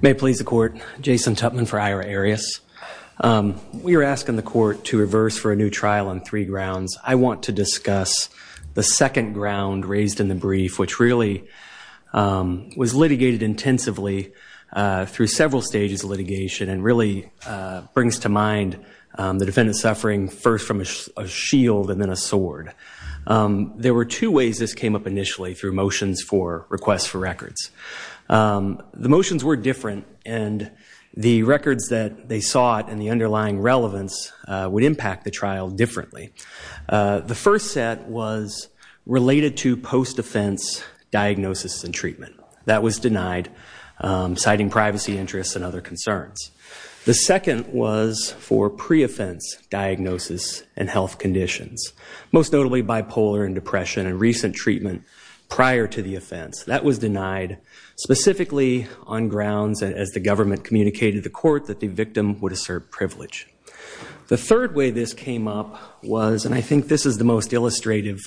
May it please the court, Jason Tupman for Ira Arias. We are asking the court to reverse for a new trial on three grounds. I want to discuss the second ground raised in the brief, which really was litigated intensively through several stages of litigation and really brings to mind the defendant's suffering first from a shield and then a sword. There were two ways this came up initially through motions for requests for records. The motions were different and the records that they sought and the underlying relevance would impact the trial differently. The first set was related to post-offense diagnosis and treatment. That was denied, citing privacy interests and other concerns. The second was for pre-offense diagnosis and health conditions, most notably bipolar and depression and recent treatment prior to the offense. That was denied specifically on grounds as the government communicated the court that the victim would assert privilege. The third way this came up was, and I think this is the most illustrative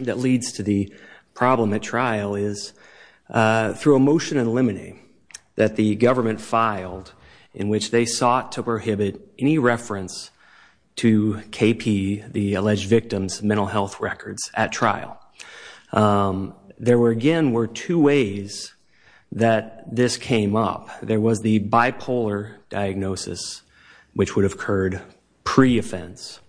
that leads to the problem at trial, is through a motion in limine that the government filed in which they sought to prohibit any reference to KP, the alleged victim's mental health records, at trial. There again were two ways that this came up. There was the bipolar diagnosis, which would have occurred pre-offense.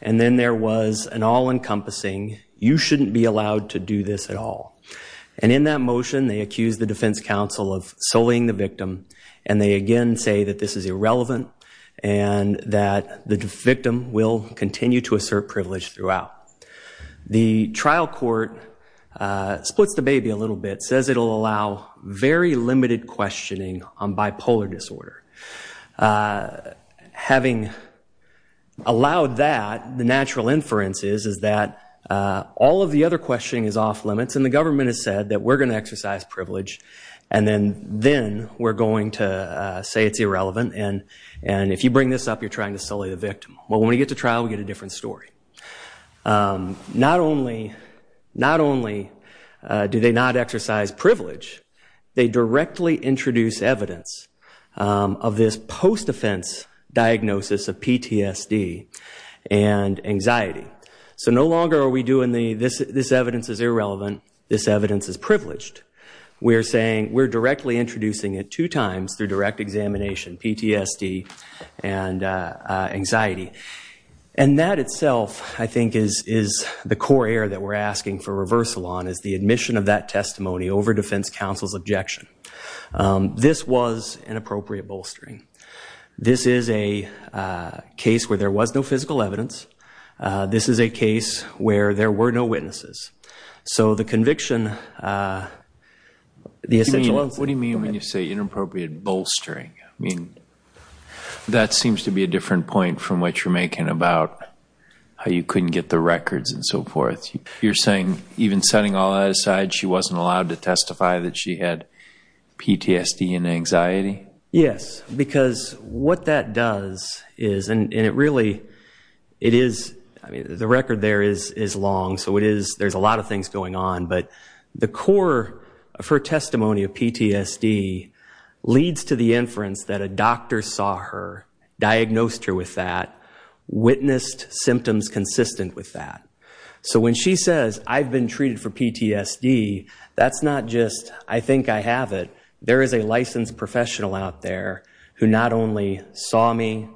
And then there was an all-encompassing, you shouldn't be allowed to do this at all. And in that motion, they accused the defense counsel of sullying the victim. And they again say that this is irrelevant and that the victim will continue to assert privilege throughout. The trial court splits the baby a little bit, says it'll allow very limited questioning on bipolar disorder. Having allowed that, the natural inference is, is that all of the other questioning is off-limits. And the government has said that we're going to then, we're going to say it's irrelevant. And if you bring this up, you're trying to sully the victim. Well, when we get to trial, we get a different story. Not only, not only do they not exercise privilege, they directly introduce evidence of this post-offense diagnosis of PTSD and anxiety. So no longer are we doing the, this evidence is irrelevant, this evidence is irrelevant. We're directly introducing it two times through direct examination, PTSD and anxiety. And that itself, I think, is, is the core error that we're asking for reversal on, is the admission of that testimony over defense counsel's objection. This was an appropriate bolstering. This is a case where there was no physical evidence. This is a case where there were no witnesses. So the conviction, the essential, what do you mean when you say inappropriate bolstering? I mean, that seems to be a different point from what you're making about how you couldn't get the records and so forth. You're saying even setting all that aside, she wasn't allowed to testify that she had PTSD and anxiety? Yes, because what that does is, and it really, it is, I mean, the record there is, is long. So it is, there's a lot of things going on. But the core of her testimony of PTSD leads to the inference that a doctor saw her, diagnosed her with that, witnessed symptoms consistent with that. So when she says, I've been treated for PTSD, that's not just, I think I have it. There is a licensed professional out there who not only saw me,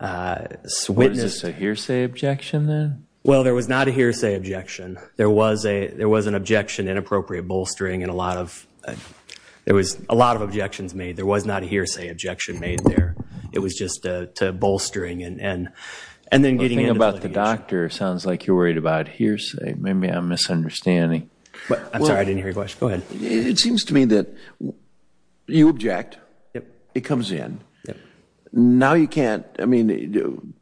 witnessed. Was this a hearsay objection then? Well, there was not a hearsay objection. There was a, there was an objection, inappropriate bolstering, and a lot of, there was a lot of objections made. There was not a hearsay objection made there. It was just a bolstering and, and, and then getting into the litigation. The thing about the doctor sounds like you're worried about hearsay. Maybe I'm misunderstanding. I'm sorry, I didn't hear your question. Go ahead. It seems to me that you object. It comes in. Now you can't, I mean,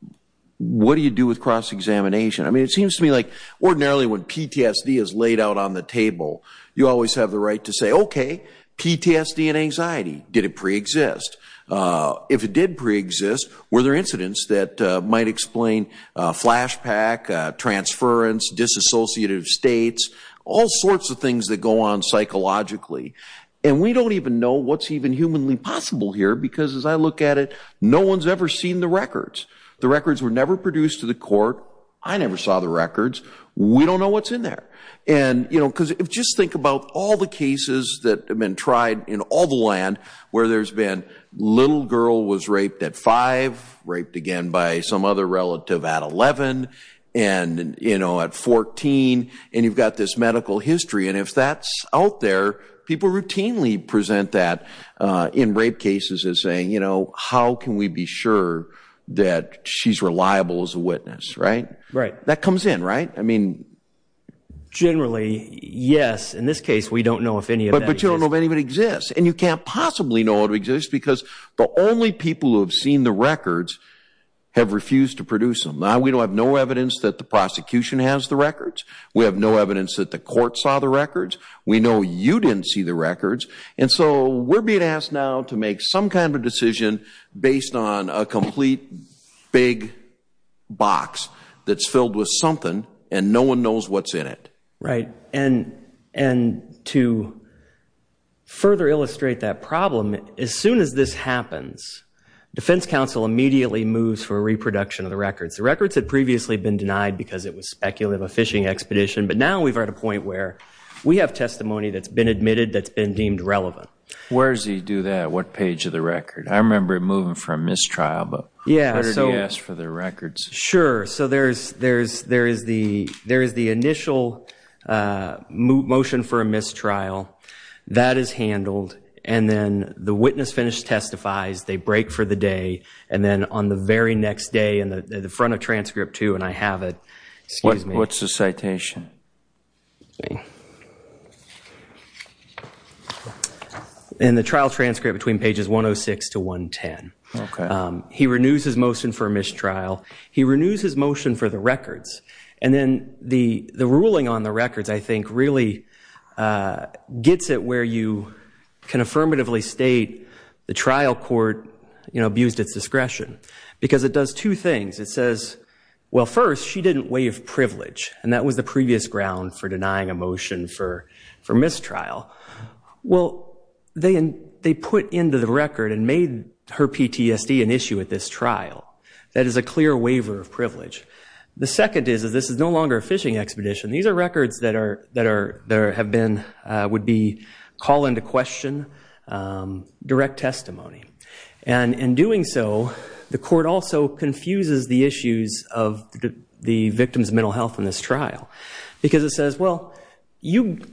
what do you do with cross-examination? I mean, it seems to me like ordinarily when PTSD is laid out on the table, you always have the right to say, okay, PTSD and anxiety. Did it pre-exist? If it did pre-exist, were there incidents that might explain flashback, transference, disassociative states, all sorts of things that go on psychologically. And we don't even know what's even humanly possible here, because as I look at it, no one's ever seen the records. The records were never produced to the court. I never saw the records. We don't know what's in there. And, you know, because just think about all the cases that have been tried in all the land where there's been little girl was raped at five, raped again by some other relative at 11, and, you know, at 14, and you've got this medical history. And if that's out there, people routinely present that in rape cases as saying, you know, how can we be sure that she's reliable as a witness, right? That comes in, right? I mean, generally, yes. In this case, we don't know if any of that exists. But you don't know if any of it exists. And you can't possibly know it exists, because the only people who have seen the records have refused to produce them. Now, we don't have no evidence that the prosecution has the records. We have no evidence that the court saw the records. We know you didn't see the records. And so we're being asked now to make some kind of a decision based on a complete big box that's filled with something, and no one knows what's in it. Right. And to further illustrate that problem, as soon as this happens, defense counsel immediately moves for a reproduction of the records. The records had previously been denied because it was speculative, a phishing expedition. But now we've reached a point where we have testimony that's been admitted that's been deemed relevant. Where does he do that? What page of the record? I remember it moving for a mistrial, but he's already asked for the records. Sure. So there is the initial motion for a mistrial. That is handled. And then the witness finished testifies. They break for the day. And then on the very next day, in the front of transcript two, and I have it. What's the citation? In the trial transcript between pages 106 to 110. Okay. He renews his motion for a mistrial. He renews his motion for the records. And then the ruling on the records, I think, really gets it where you can affirmatively state the trial court abused its discretion. Because it does two things. It says, well, first, she didn't waive privilege, and that was the previous ground for denying a motion for mistrial. Well, they put into the record and made her PTSD an issue at this trial. That is a clear waiver of privilege. The second is that this is no longer a fishing expedition. These are records that would be call into question, direct testimony. And in doing so, the court also confuses the issues of the victim's mental health in this trial. Because it says, well,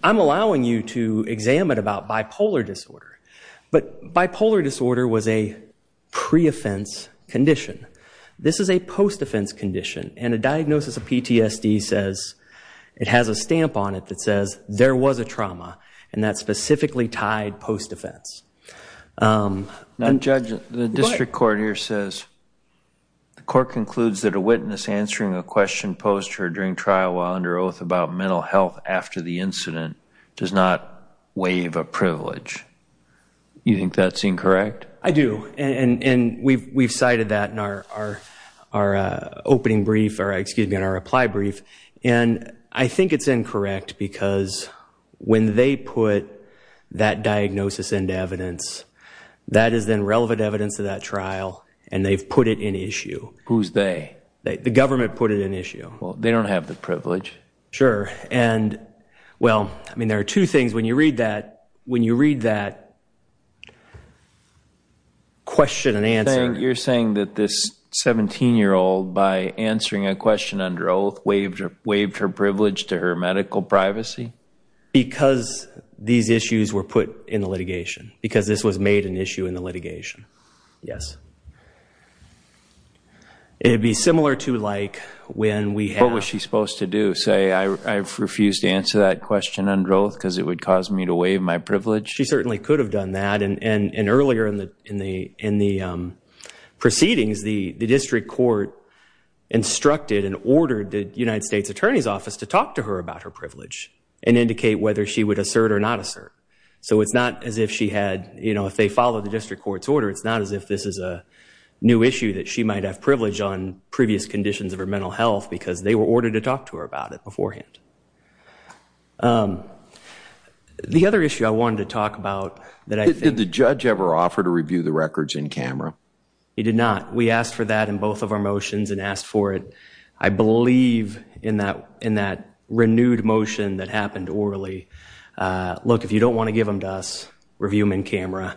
I'm allowing you to examine about bipolar disorder. But bipolar disorder was a pre-offense condition. This is a post-offense condition. And a diagnosis of PTSD says it has a stamp on it that says there was a trauma. And that's specifically tied post-offense. Now, Judge, the district court here says the court concludes that a witness answering a question posed to her during trial while under oath about mental health after the incident does not waive a privilege. You think that's incorrect? I do. And we've cited that in our opening brief, or excuse me, in our reply brief. And I think it's incorrect because when they put that diagnosis into evidence, that is then relevant evidence to that trial. And they've put it in issue. Who's they? The government put it in issue. Well, they don't have the privilege. Sure. Well, I mean, there are two things. When you read that question and answer. You're saying that this 17-year-old, by answering a question under oath, waived her privilege to her medical privacy? Because these issues were put in the litigation. Because this was made an issue in the litigation, yes. It would be similar to like when we have. What was she supposed to do? Say, I've refused to answer that question under oath because it would cause me to waive my privilege? She certainly could have done that. And earlier in the proceedings, the district court instructed and ordered the United States Attorney's Office to talk to her about her privilege and indicate whether she would assert or not assert. So it's not as if she had, you know, if they followed the district court's order, it's not as if this is a new issue that she might have privilege on previous conditions of her mental health because they were ordered to talk to her about it beforehand. The other issue I wanted to talk about that I think... Did the judge ever offer to review the records in camera? He did not. We asked for that in both of our motions and asked for it, I believe, in that renewed motion that happened orally. Look, if you don't want to give them to us, review them in camera.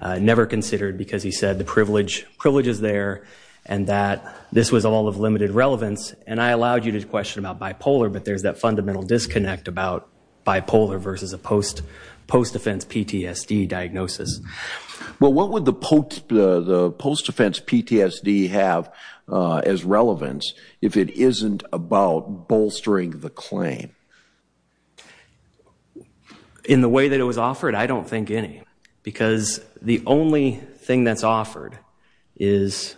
Never considered because he said the privilege is there and that this was all of limited relevance. And I allowed you to question about bipolar, but there's that fundamental disconnect about bipolar versus a post-defense PTSD diagnosis. Well, what would the post-defense PTSD have as relevance if it isn't about bolstering the claim? In the way that it was offered, I don't think any because the only thing that's offered is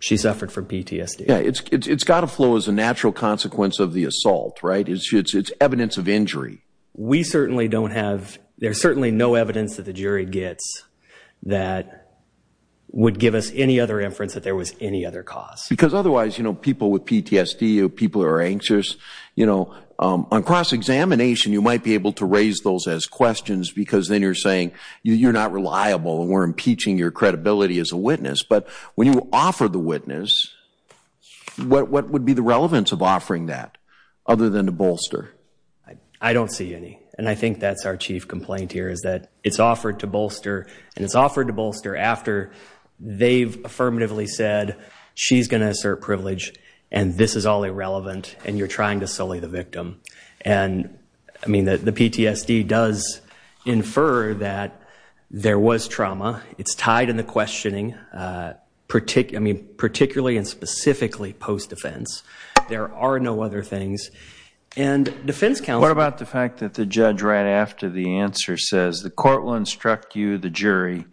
she suffered from PTSD. Yeah, it's got to flow as a natural consequence of the assault, right? It's evidence of injury. We certainly don't have... There's certainly no evidence that the jury gets that would give us any other inference that there was any other cause. Because otherwise, you know, people with PTSD or people who are anxious, you know, on cross-examination, you might be able to raise those as questions because then you're saying you're not reliable and we're impeaching your credibility as a witness. But when you offer the witness, what would be the relevance of offering that other than to bolster? I don't see any, and I think that's our chief complaint here is that it's offered to bolster, and it's offered to bolster after they've affirmatively said she's going to assert privilege and this is all irrelevant and you're trying to sully the victim. And, I mean, the PTSD does infer that there was trauma. It's tied in the questioning, particularly and specifically post-defense. There are no other things. And defense counsel... What about the fact that the judge right after the answer says, the court will instruct you, the jury,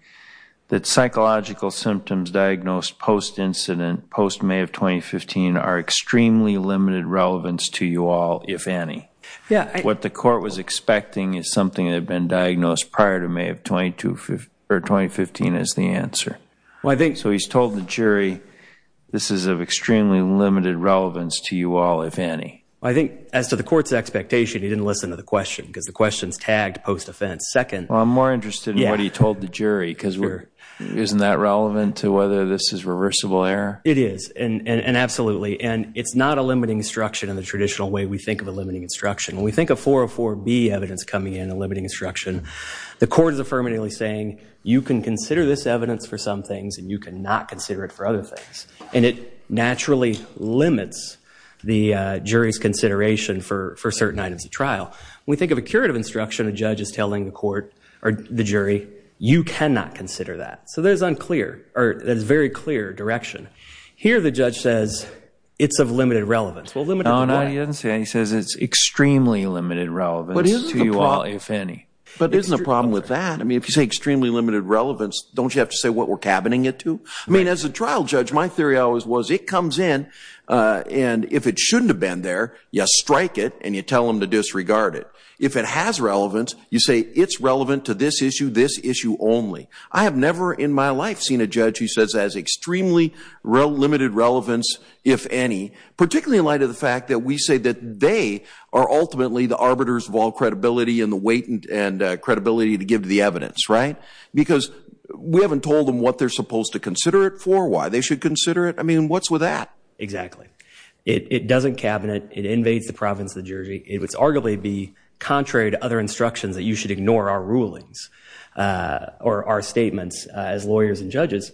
that psychological symptoms diagnosed post-incident, post-May of 2015, are extremely limited relevance to you all, if any? What the court was expecting is something that had been diagnosed prior to May of 2015 as the answer. So he's told the jury, this is of extremely limited relevance to you all, if any. I think, as to the court's expectation, he didn't listen to the question because the question's tagged post-offense. Well, I'm more interested in what he told the jury because isn't that relevant to whether this is reversible error? It is, and absolutely. And it's not a limiting instruction in the traditional way we think of a limiting instruction. When we think of 404B evidence coming in, a limiting instruction, the court is affirmatively saying, you can consider this evidence for some things and you cannot consider it for other things. And it naturally limits the jury's consideration for certain items of trial. When we think of a curative instruction, a judge is telling the court, or the jury, you cannot consider that. So there's unclear, or there's very clear direction. Here the judge says it's of limited relevance. Well, limited to what? No, he doesn't say that. He says it's extremely limited relevance to you all, if any. But isn't the problem with that? I mean, if you say extremely limited relevance, don't you have to say what we're cabining it to? I mean, as a trial judge, my theory always was it comes in and if it shouldn't have been there, you strike it and you tell them to disregard it. If it has relevance, you say it's relevant to this issue, this issue only. I have never in my life seen a judge who says it has extremely limited relevance, if any, particularly in light of the fact that we say that they are ultimately the arbiters of all credibility and the weight and credibility to give to the evidence, right? Because we haven't told them what they're supposed to consider it for, why they should consider it. I mean, what's with that? Exactly. It doesn't cabinet. It invades the province of the jury. It would arguably be contrary to other instructions that you should ignore our rulings or our statements as lawyers and judges,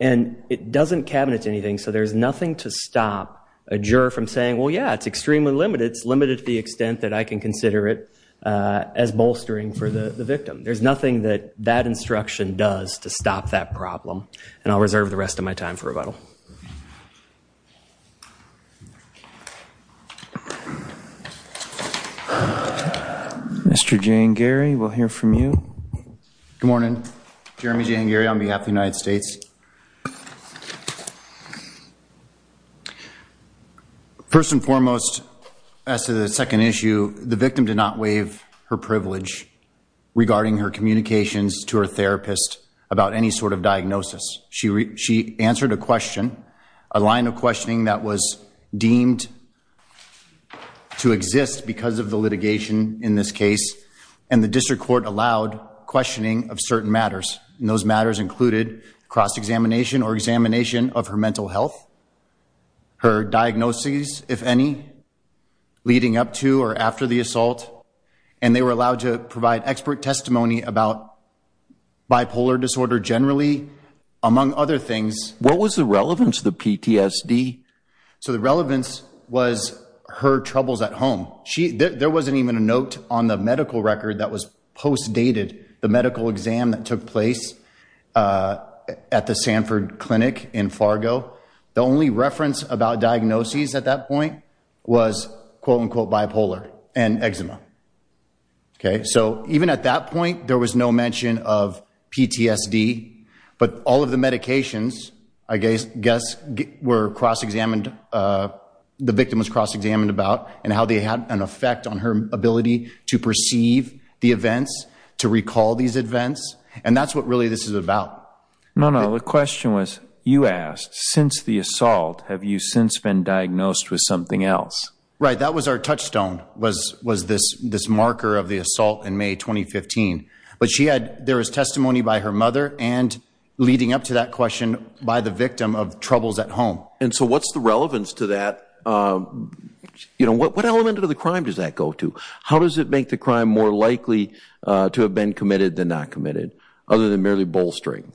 and it doesn't cabinet to anything, so there's nothing to stop a juror from saying, well, yeah, it's extremely limited. It's limited to the extent that I can consider it as bolstering for the victim. There's nothing that that instruction does to stop that problem, and I'll reserve the rest of my time for rebuttal. Thank you. Mr. Jane Geary, we'll hear from you. Good morning. Jeremy Jane Geary on behalf of the United States. First and foremost, as to the second issue, the victim did not waive her privilege regarding her communications to her therapist about any sort of diagnosis. She answered a question, a line of questioning that was deemed to exist because of the litigation in this case, and the district court allowed questioning of certain matters, and those matters included cross-examination or examination of her mental health, her diagnoses, if any, leading up to or after the assault, and they were allowed to provide expert testimony about bipolar disorder generally, among other things. What was the relevance of the PTSD? So the relevance was her troubles at home. There wasn't even a note on the medical record that was post-dated, the medical exam that took place at the Sanford Clinic in Fargo. The only reference about diagnoses at that point was, quote-unquote, bipolar and eczema. Okay, so even at that point, there was no mention of PTSD, but all of the medications, I guess, were cross-examined, the victim was cross-examined about, and how they had an effect on her ability to perceive the events, to recall these events, and that's what really this is about. No, no, the question was, you asked, since the assault, have you since been diagnosed with something else? Right, that was our touchstone, was this marker of the assault in May 2015. But there was testimony by her mother and, leading up to that question, by the victim of troubles at home. And so what's the relevance to that? What element of the crime does that go to? How does it make the crime more likely to have been committed than not committed, other than merely bolstering?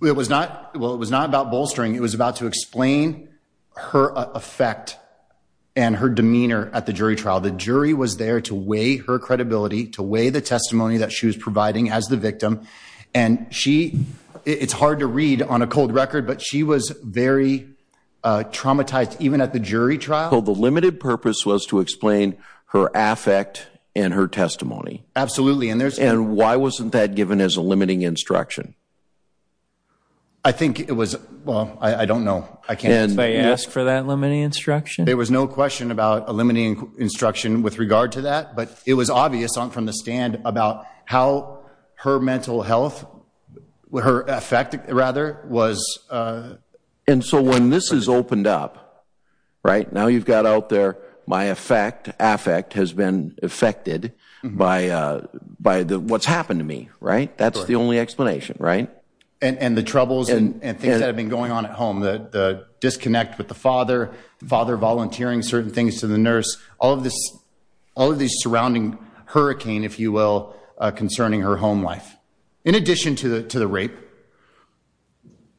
Well, it was not about bolstering. It was about to explain her effect and her demeanor at the jury trial. The jury was there to weigh her credibility, to weigh the testimony that she was providing as the victim. And she, it's hard to read on a cold record, but she was very traumatized even at the jury trial. So the limited purpose was to explain her affect and her testimony? Absolutely. And why wasn't that given as a limiting instruction? I think it was, well, I don't know. Did they ask for that limiting instruction? There was no question about a limiting instruction with regard to that, but it was obvious from the stand about how her mental health, her affect, rather, was. And so when this is opened up, right, now you've got out there, my affect has been affected by what's happened to me, right? That's the only explanation, right? And the troubles and things that have been going on at home, the disconnect with the father, the father volunteering certain things to the nurse, all of these surrounding hurricane, if you will, concerning her home life, in addition to the rape.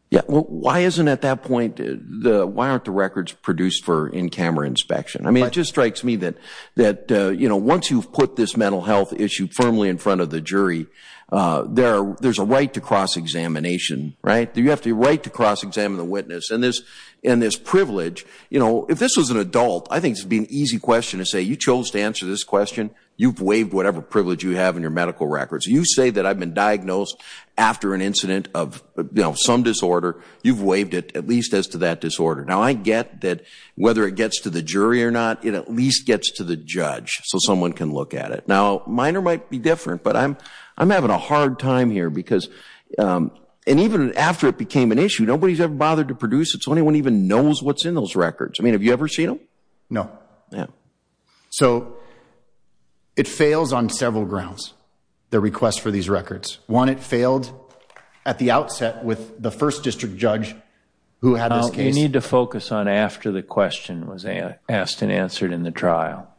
Yeah, well, why isn't at that point, why aren't the records produced for in-camera inspection? I mean, it just strikes me that once you've put this mental health issue firmly in front of the jury, there's a right to cross-examination, right? You have the right to cross-examine the witness. And this privilege, you know, if this was an adult, I think it would be an easy question to say, you chose to answer this question, you've waived whatever privilege you have in your medical records. You say that I've been diagnosed after an incident of some disorder, you've waived it at least as to that disorder. Now, I get that whether it gets to the jury or not, it at least gets to the judge so someone can look at it. Now, mine might be different, but I'm having a hard time here because, and even after it became an issue, nobody's ever bothered to produce it so anyone even knows what's in those records. I mean, have you ever seen them? No. Yeah. So it fails on several grounds, the request for these records. One, it failed at the outset with the first district judge who had this case. Now, you need to focus on after the question was asked and answered in the trial,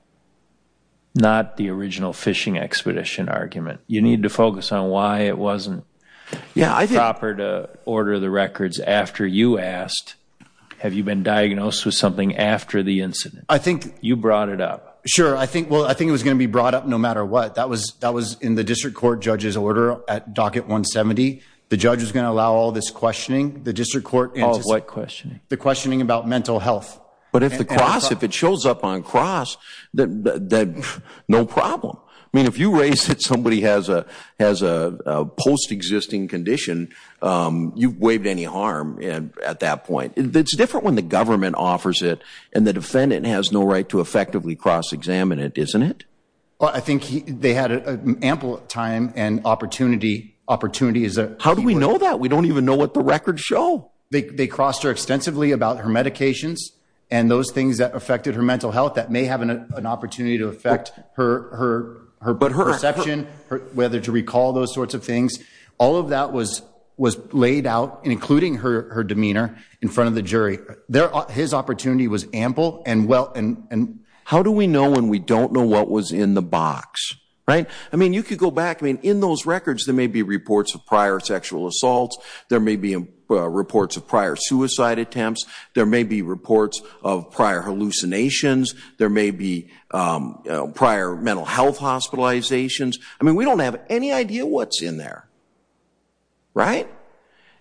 not the original fishing expedition argument. You need to focus on why it wasn't proper to order the records after you asked, have you been diagnosed with something after the incident? You brought it up. Sure. Well, I think it was going to be brought up no matter what. That was in the district court judge's order at docket 170. The judge was going to allow all this questioning, the district court. All of what questioning? The questioning about mental health. But if the cross, if it shows up on cross, no problem. I mean, if you raise it, somebody has a post-existing condition, you've waived any harm at that point. It's different when the government offers it and the defendant has no right to effectively cross-examine it, isn't it? Well, I think they had ample time and opportunity. How do we know that? We don't even know what the records show. They crossed her extensively about her medications and those things that affected her mental health that may have an opportunity to affect her perception, whether to recall those sorts of things. All of that was laid out, including her demeanor, in front of the jury. His opportunity was ample. How do we know when we don't know what was in the box? I mean, you could go back. In those records, there may be reports of prior sexual assaults. There may be reports of prior suicide attempts. There may be reports of prior hallucinations. There may be prior mental health hospitalizations. I mean, we don't have any idea what's in there, right?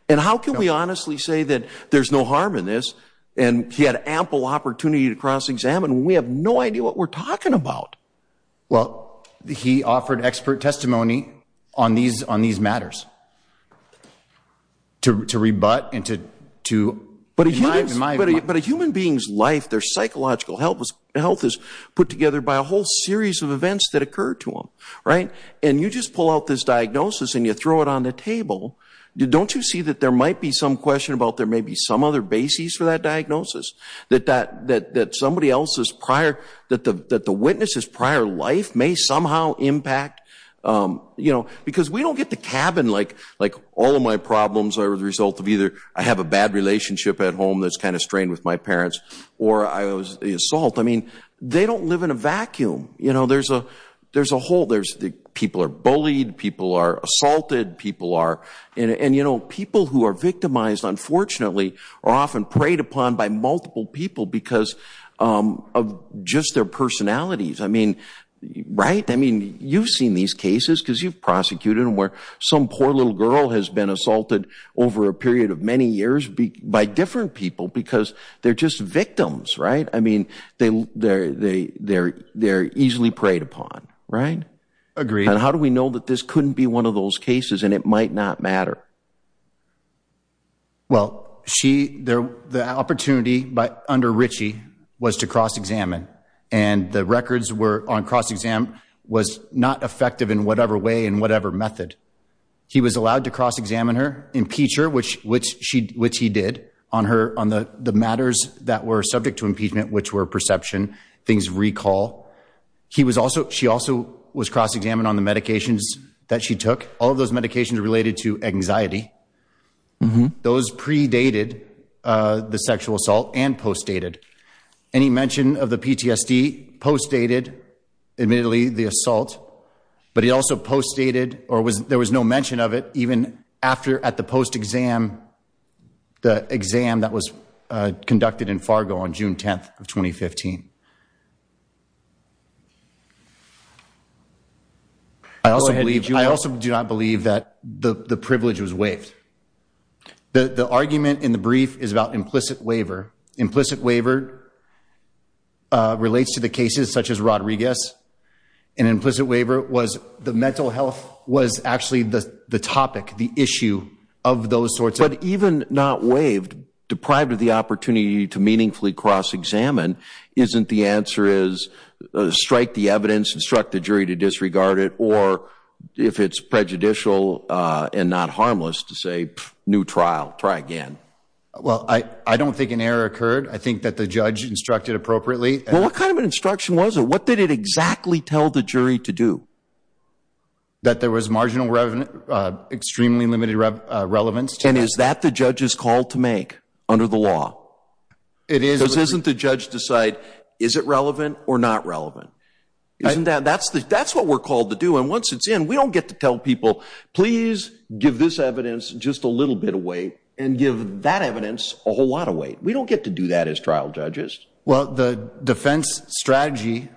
And how can we honestly say that there's no harm in this and he had ample opportunity to cross-examine when we have no idea what we're talking about? Well, he offered expert testimony on these matters to rebut and to remind. But a human being's life, their psychological health, is put together by a whole series of events that occurred to them, right? And you just pull out this diagnosis and you throw it on the table. Don't you see that there might be some question about there may be some other basis for that diagnosis, that somebody else's prior, that the witness's prior life may somehow impact? Because we don't get to cabin like all of my problems are the result of either I have a bad relationship at home that's kind of strained with my parents or the assault. I mean, they don't live in a vacuum. There's a whole. People are bullied. People are assaulted. And people who are victimized, unfortunately, are often preyed upon by multiple people because of just their personalities. I mean, right? I mean, you've seen these cases because you've prosecuted them where some poor little girl has been assaulted over a period of many years by different people because they're just victims, right? I mean, they're easily preyed upon, right? Agreed. And how do we know that this couldn't be one of those cases and it might not matter? Well, the opportunity under Ritchie was to cross-examine, and the records were on cross-exam was not effective in whatever way and whatever method. He was allowed to cross-examine her, impeach her, which he did, on the matters that were subject to impeachment, which were perception, things of recall. She also was cross-examined on the medications that she took, all of those medications related to anxiety. Those predated the sexual assault and post-dated. Any mention of the PTSD post-dated, admittedly, the assault, but he also post-dated or there was no mention of it even after at the post-exam, the exam that was conducted in Fargo on June 10th of 2015. I also do not believe that the privilege was waived. The argument in the brief is about implicit waiver. Implicit waiver relates to the cases such as Rodriguez, and implicit waiver was the mental health was actually the topic, the issue of those sorts. But even not waived, deprived of the opportunity to meaningfully cross-examine, isn't the answer is strike the evidence, instruct the jury to disregard it, or if it's prejudicial and not harmless to say, new trial, try again. Well, I don't think an error occurred. I think that the judge instructed appropriately. Well, what kind of an instruction was it? What did it exactly tell the jury to do? That there was marginal, extremely limited relevance. And is that the judge's call to make under the law? It is. Because isn't the judge decide, is it relevant or not relevant? That's what we're called to do. And once it's in, we don't get to tell people, please give this evidence just a little bit of weight and give that evidence a whole lot of weight. We don't get to do that as trial judges. Well, the defense strategy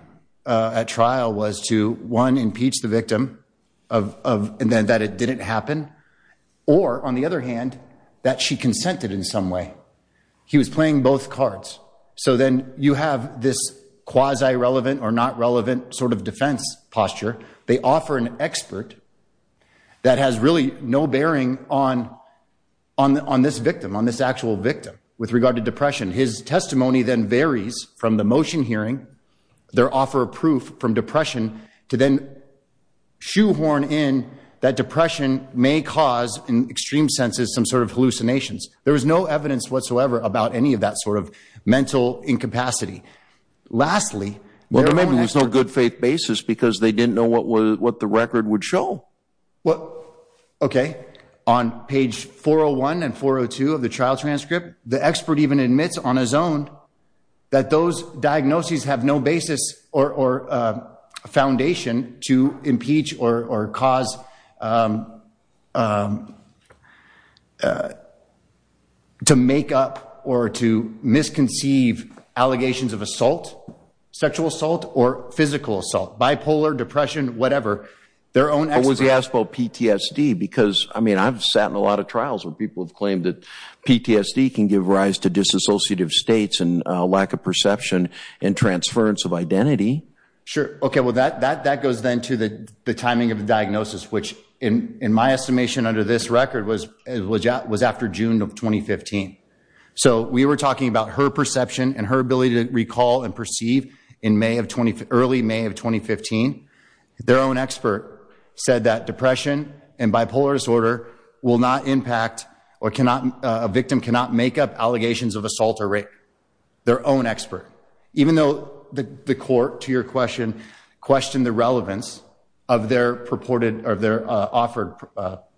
at trial was to, one, impeach the victim, and then that it didn't happen, or, on the other hand, that she consented in some way. He was playing both cards. So then you have this quasi-relevant or not relevant sort of defense posture. They offer an expert that has really no bearing on this victim, on this actual victim, with regard to depression. His testimony then varies from the motion hearing, their offer of proof from depression, to then shoehorn in that depression may cause, in extreme senses, some sort of hallucinations. There was no evidence whatsoever about any of that sort of mental incapacity. Lastly, there are no experts. Well, maybe there was no good faith basis because they didn't know what the record would show. Okay. On page 401 and 402 of the trial transcript, the expert even admits on his own that those diagnoses have no basis or foundation to impeach or cause, to make up or to misconceive allegations of assault, sexual assault or physical assault, bipolar, depression, whatever. Their own experts. But was he asked about PTSD? Because, I mean, I've sat in a lot of trials where people have claimed that PTSD can give rise to disassociative states and lack of perception and transference of identity. Sure. Okay. Well, that goes then to the timing of the diagnosis, which in my estimation under this record was after June of 2015. So we were talking about her perception and her ability to recall and perceive in early May of 2015. Their own expert said that depression and bipolar disorder will not impact or a victim cannot make up allegations of assault or rape. Their own expert. Even though the court, to your question, questioned the relevance of their offered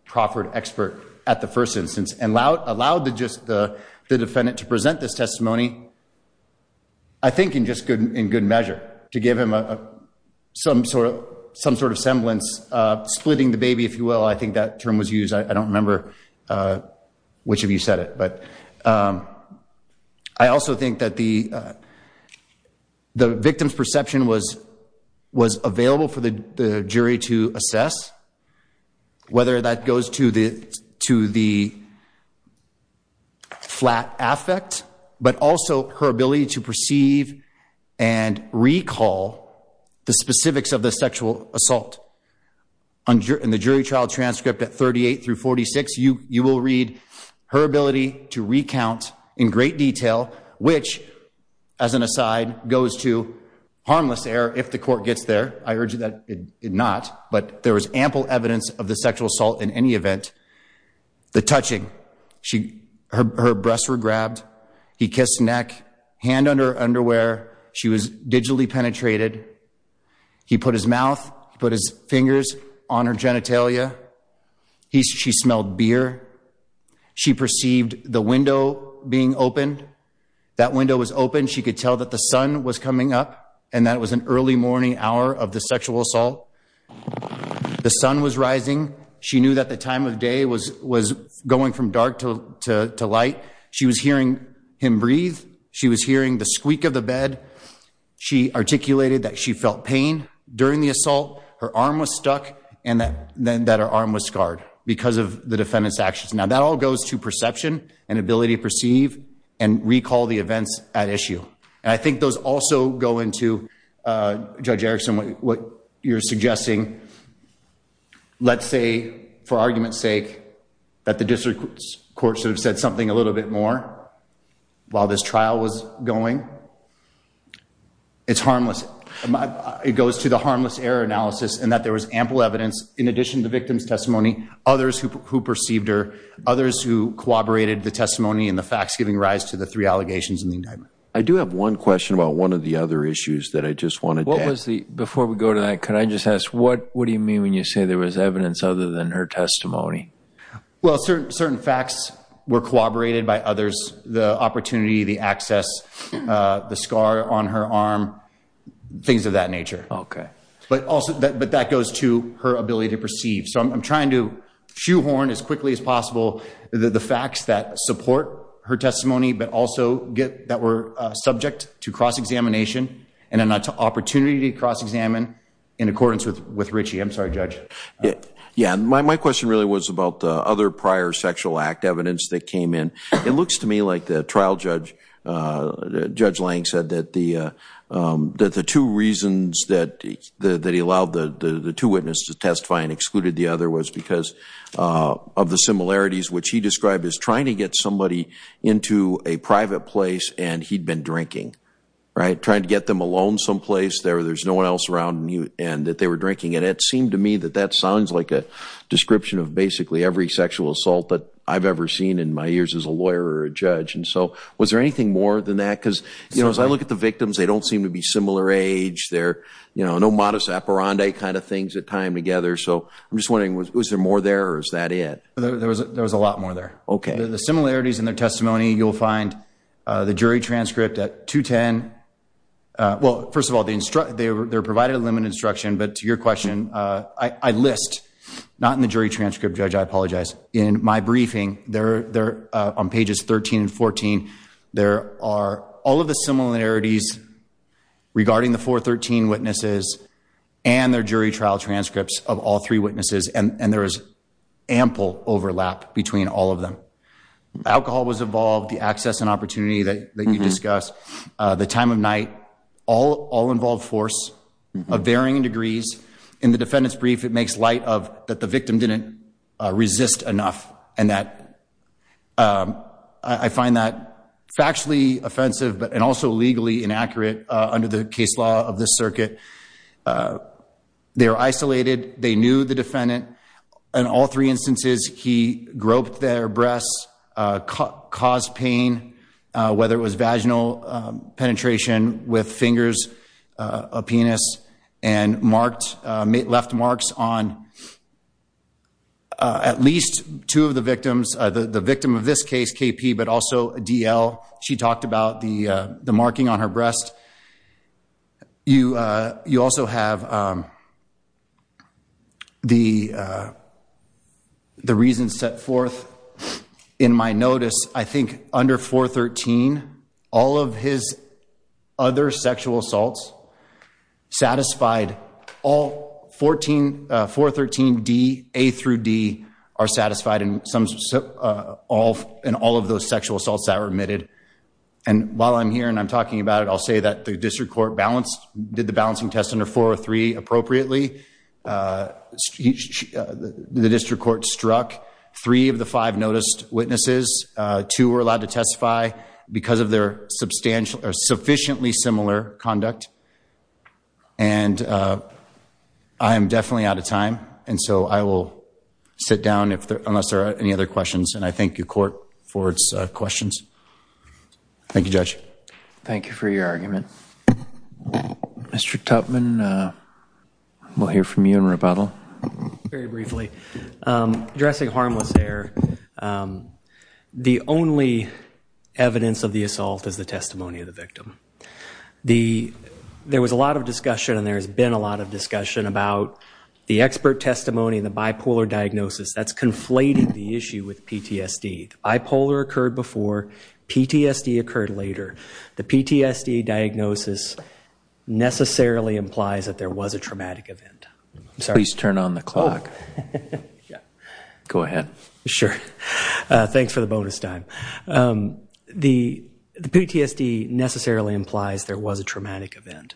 proffered expert at the first instance and allowed the defendant to present this testimony, I think in just good measure to give him some sort of semblance, splitting the baby, if you will. I think that term was used. I don't remember which of you said it. I also think that the victim's perception was available for the jury to assess, whether that goes to the flat affect, but also her ability to perceive and recall the specifics of the sexual assault. In the jury trial transcript at 38 through 46, you will read her ability to recount in great detail, which, as an aside, goes to harmless error if the court gets there. I urge you that it not, but there was ample evidence of the sexual assault in any event. The touching. Her breasts were grabbed. He kissed neck, hand under her underwear. She was digitally penetrated. He put his mouth, put his fingers on her genitalia. He she smelled beer. She perceived the window being open. That window was open. She could tell that the sun was coming up and that was an early morning hour of the sexual assault. The sun was rising. She knew that the time of day was was going from dark to light. She was hearing him breathe. She was hearing the squeak of the bed. She articulated that she felt pain during the assault. Her arm was stuck and that then that her arm was scarred because of the defendant's actions. Now, that all goes to perception and ability to perceive and recall the events at issue. And I think those also go into, Judge Erickson, what you're suggesting. Let's say, for argument's sake, that the district court should have said something a little bit more while this trial was going. It's harmless. It goes to the harmless error analysis and that there was ample evidence, in addition to the victim's testimony, others who perceived her, others who corroborated the testimony and the facts giving rise to the three allegations in the indictment. I do have one question about one of the other issues that I just wanted to ask. Before we go to that, can I just ask, what do you mean when you say there was evidence other than her testimony? Well, certain facts were corroborated by others. The opportunity, the access, the scar on her arm, things of that nature. But that goes to her ability to perceive. So I'm trying to shoehorn as quickly as possible the facts that support her testimony, but also that were subject to cross-examination and an opportunity to cross-examine in accordance with Ritchie. I'm sorry, Judge. Yeah. My question really was about the other prior sexual act evidence that came in. It looks to me like the trial judge, Judge Lang, said that the two reasons that he allowed the two witnesses to testify and excluded the other was because of the similarities, which he described as trying to get somebody into a private place and he'd been drinking, right, trying to get them alone someplace where there's no one else around and that they were drinking. And it seemed to me that that sounds like a description of basically every sexual assault that I've ever seen in my years as a lawyer or a judge. And so was there anything more than that? Because, you know, as I look at the victims, they don't seem to be similar age. They're, you know, no modest apparante kind of things that tie them together. So I'm just wondering, was there more there or is that it? There was a lot more there. Okay. The similarities in their testimony, you'll find the jury transcript at 210. Well, first of all, they provided a limited instruction, but to your question, I list not in the jury transcript, Judge, I apologize. In my briefing there on pages 13 and 14, there are all of the similarities regarding the 413 witnesses and their jury trial transcripts of all three witnesses. And there is ample overlap between all of them. Alcohol was involved, the access and opportunity that you discussed, the time of night, all involved force of varying degrees. In the defendant's brief, it makes light of that the victim didn't resist enough. And that I find that factually offensive and also legally inaccurate under the case law of this circuit. They're isolated. They knew the defendant. In all three instances, he groped their breasts, caused pain, whether it was vaginal penetration with fingers, a penis, and marked, left marks on at least two of the victims. The victim of this case, KP, but also D.L., she talked about the marking on her breast. You also have the reasons set forth in my notice. I think under 413, all of his other sexual assaults satisfied, all 413D, A through D, are satisfied in all of those sexual assaults that were admitted. And while I'm here and I'm talking about it, I'll say that the district court balanced, did the balancing test under 403 appropriately. The district court struck three of the five noticed witnesses. Two were allowed to testify because of their sufficiently similar conduct. And I am definitely out of time. And so I will sit down unless there are any other questions. And I thank the court for its questions. Thank you, Judge. Thank you for your argument. Mr. Tupman, we'll hear from you in rebuttal. Very briefly. Addressing harmless air, the only evidence of the assault is the testimony of the victim. There was a lot of discussion and there has been a lot of discussion about the expert testimony and the bipolar diagnosis. That's conflating the issue with PTSD. Bipolar occurred before. PTSD occurred later. The PTSD diagnosis necessarily implies that there was a traumatic event. Please turn on the clock. Go ahead. Sure. Thanks for the bonus time. The PTSD necessarily implies there was a traumatic event.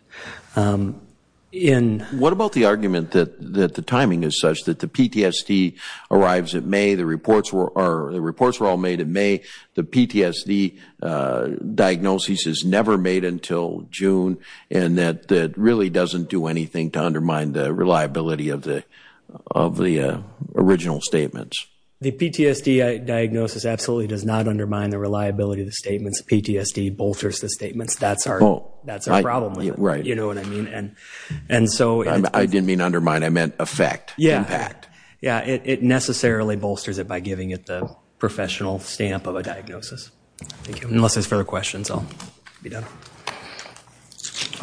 What about the argument that the timing is such that the PTSD arrives in May, the reports were all made in May, the PTSD diagnosis is never made until June, and that it really doesn't do anything to undermine the reliability of the original statements? The PTSD diagnosis absolutely does not undermine the reliability of the statements. PTSD bolsters the statements. That's our problem. Right. You know what I mean? I didn't mean undermine. I meant affect, impact. Yeah. It necessarily bolsters it by giving it the professional stamp of a diagnosis. Thank you. Unless there's further questions, I'll be done.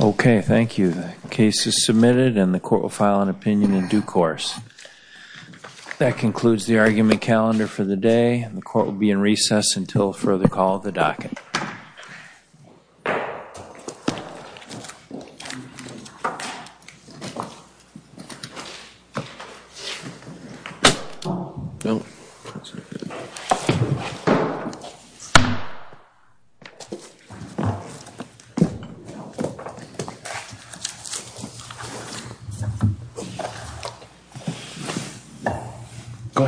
Okay. Thank you. The case is submitted and the court will file an opinion in due course. That concludes the argument calendar for the day. The court will be in recess until further call of the docket. Go ahead.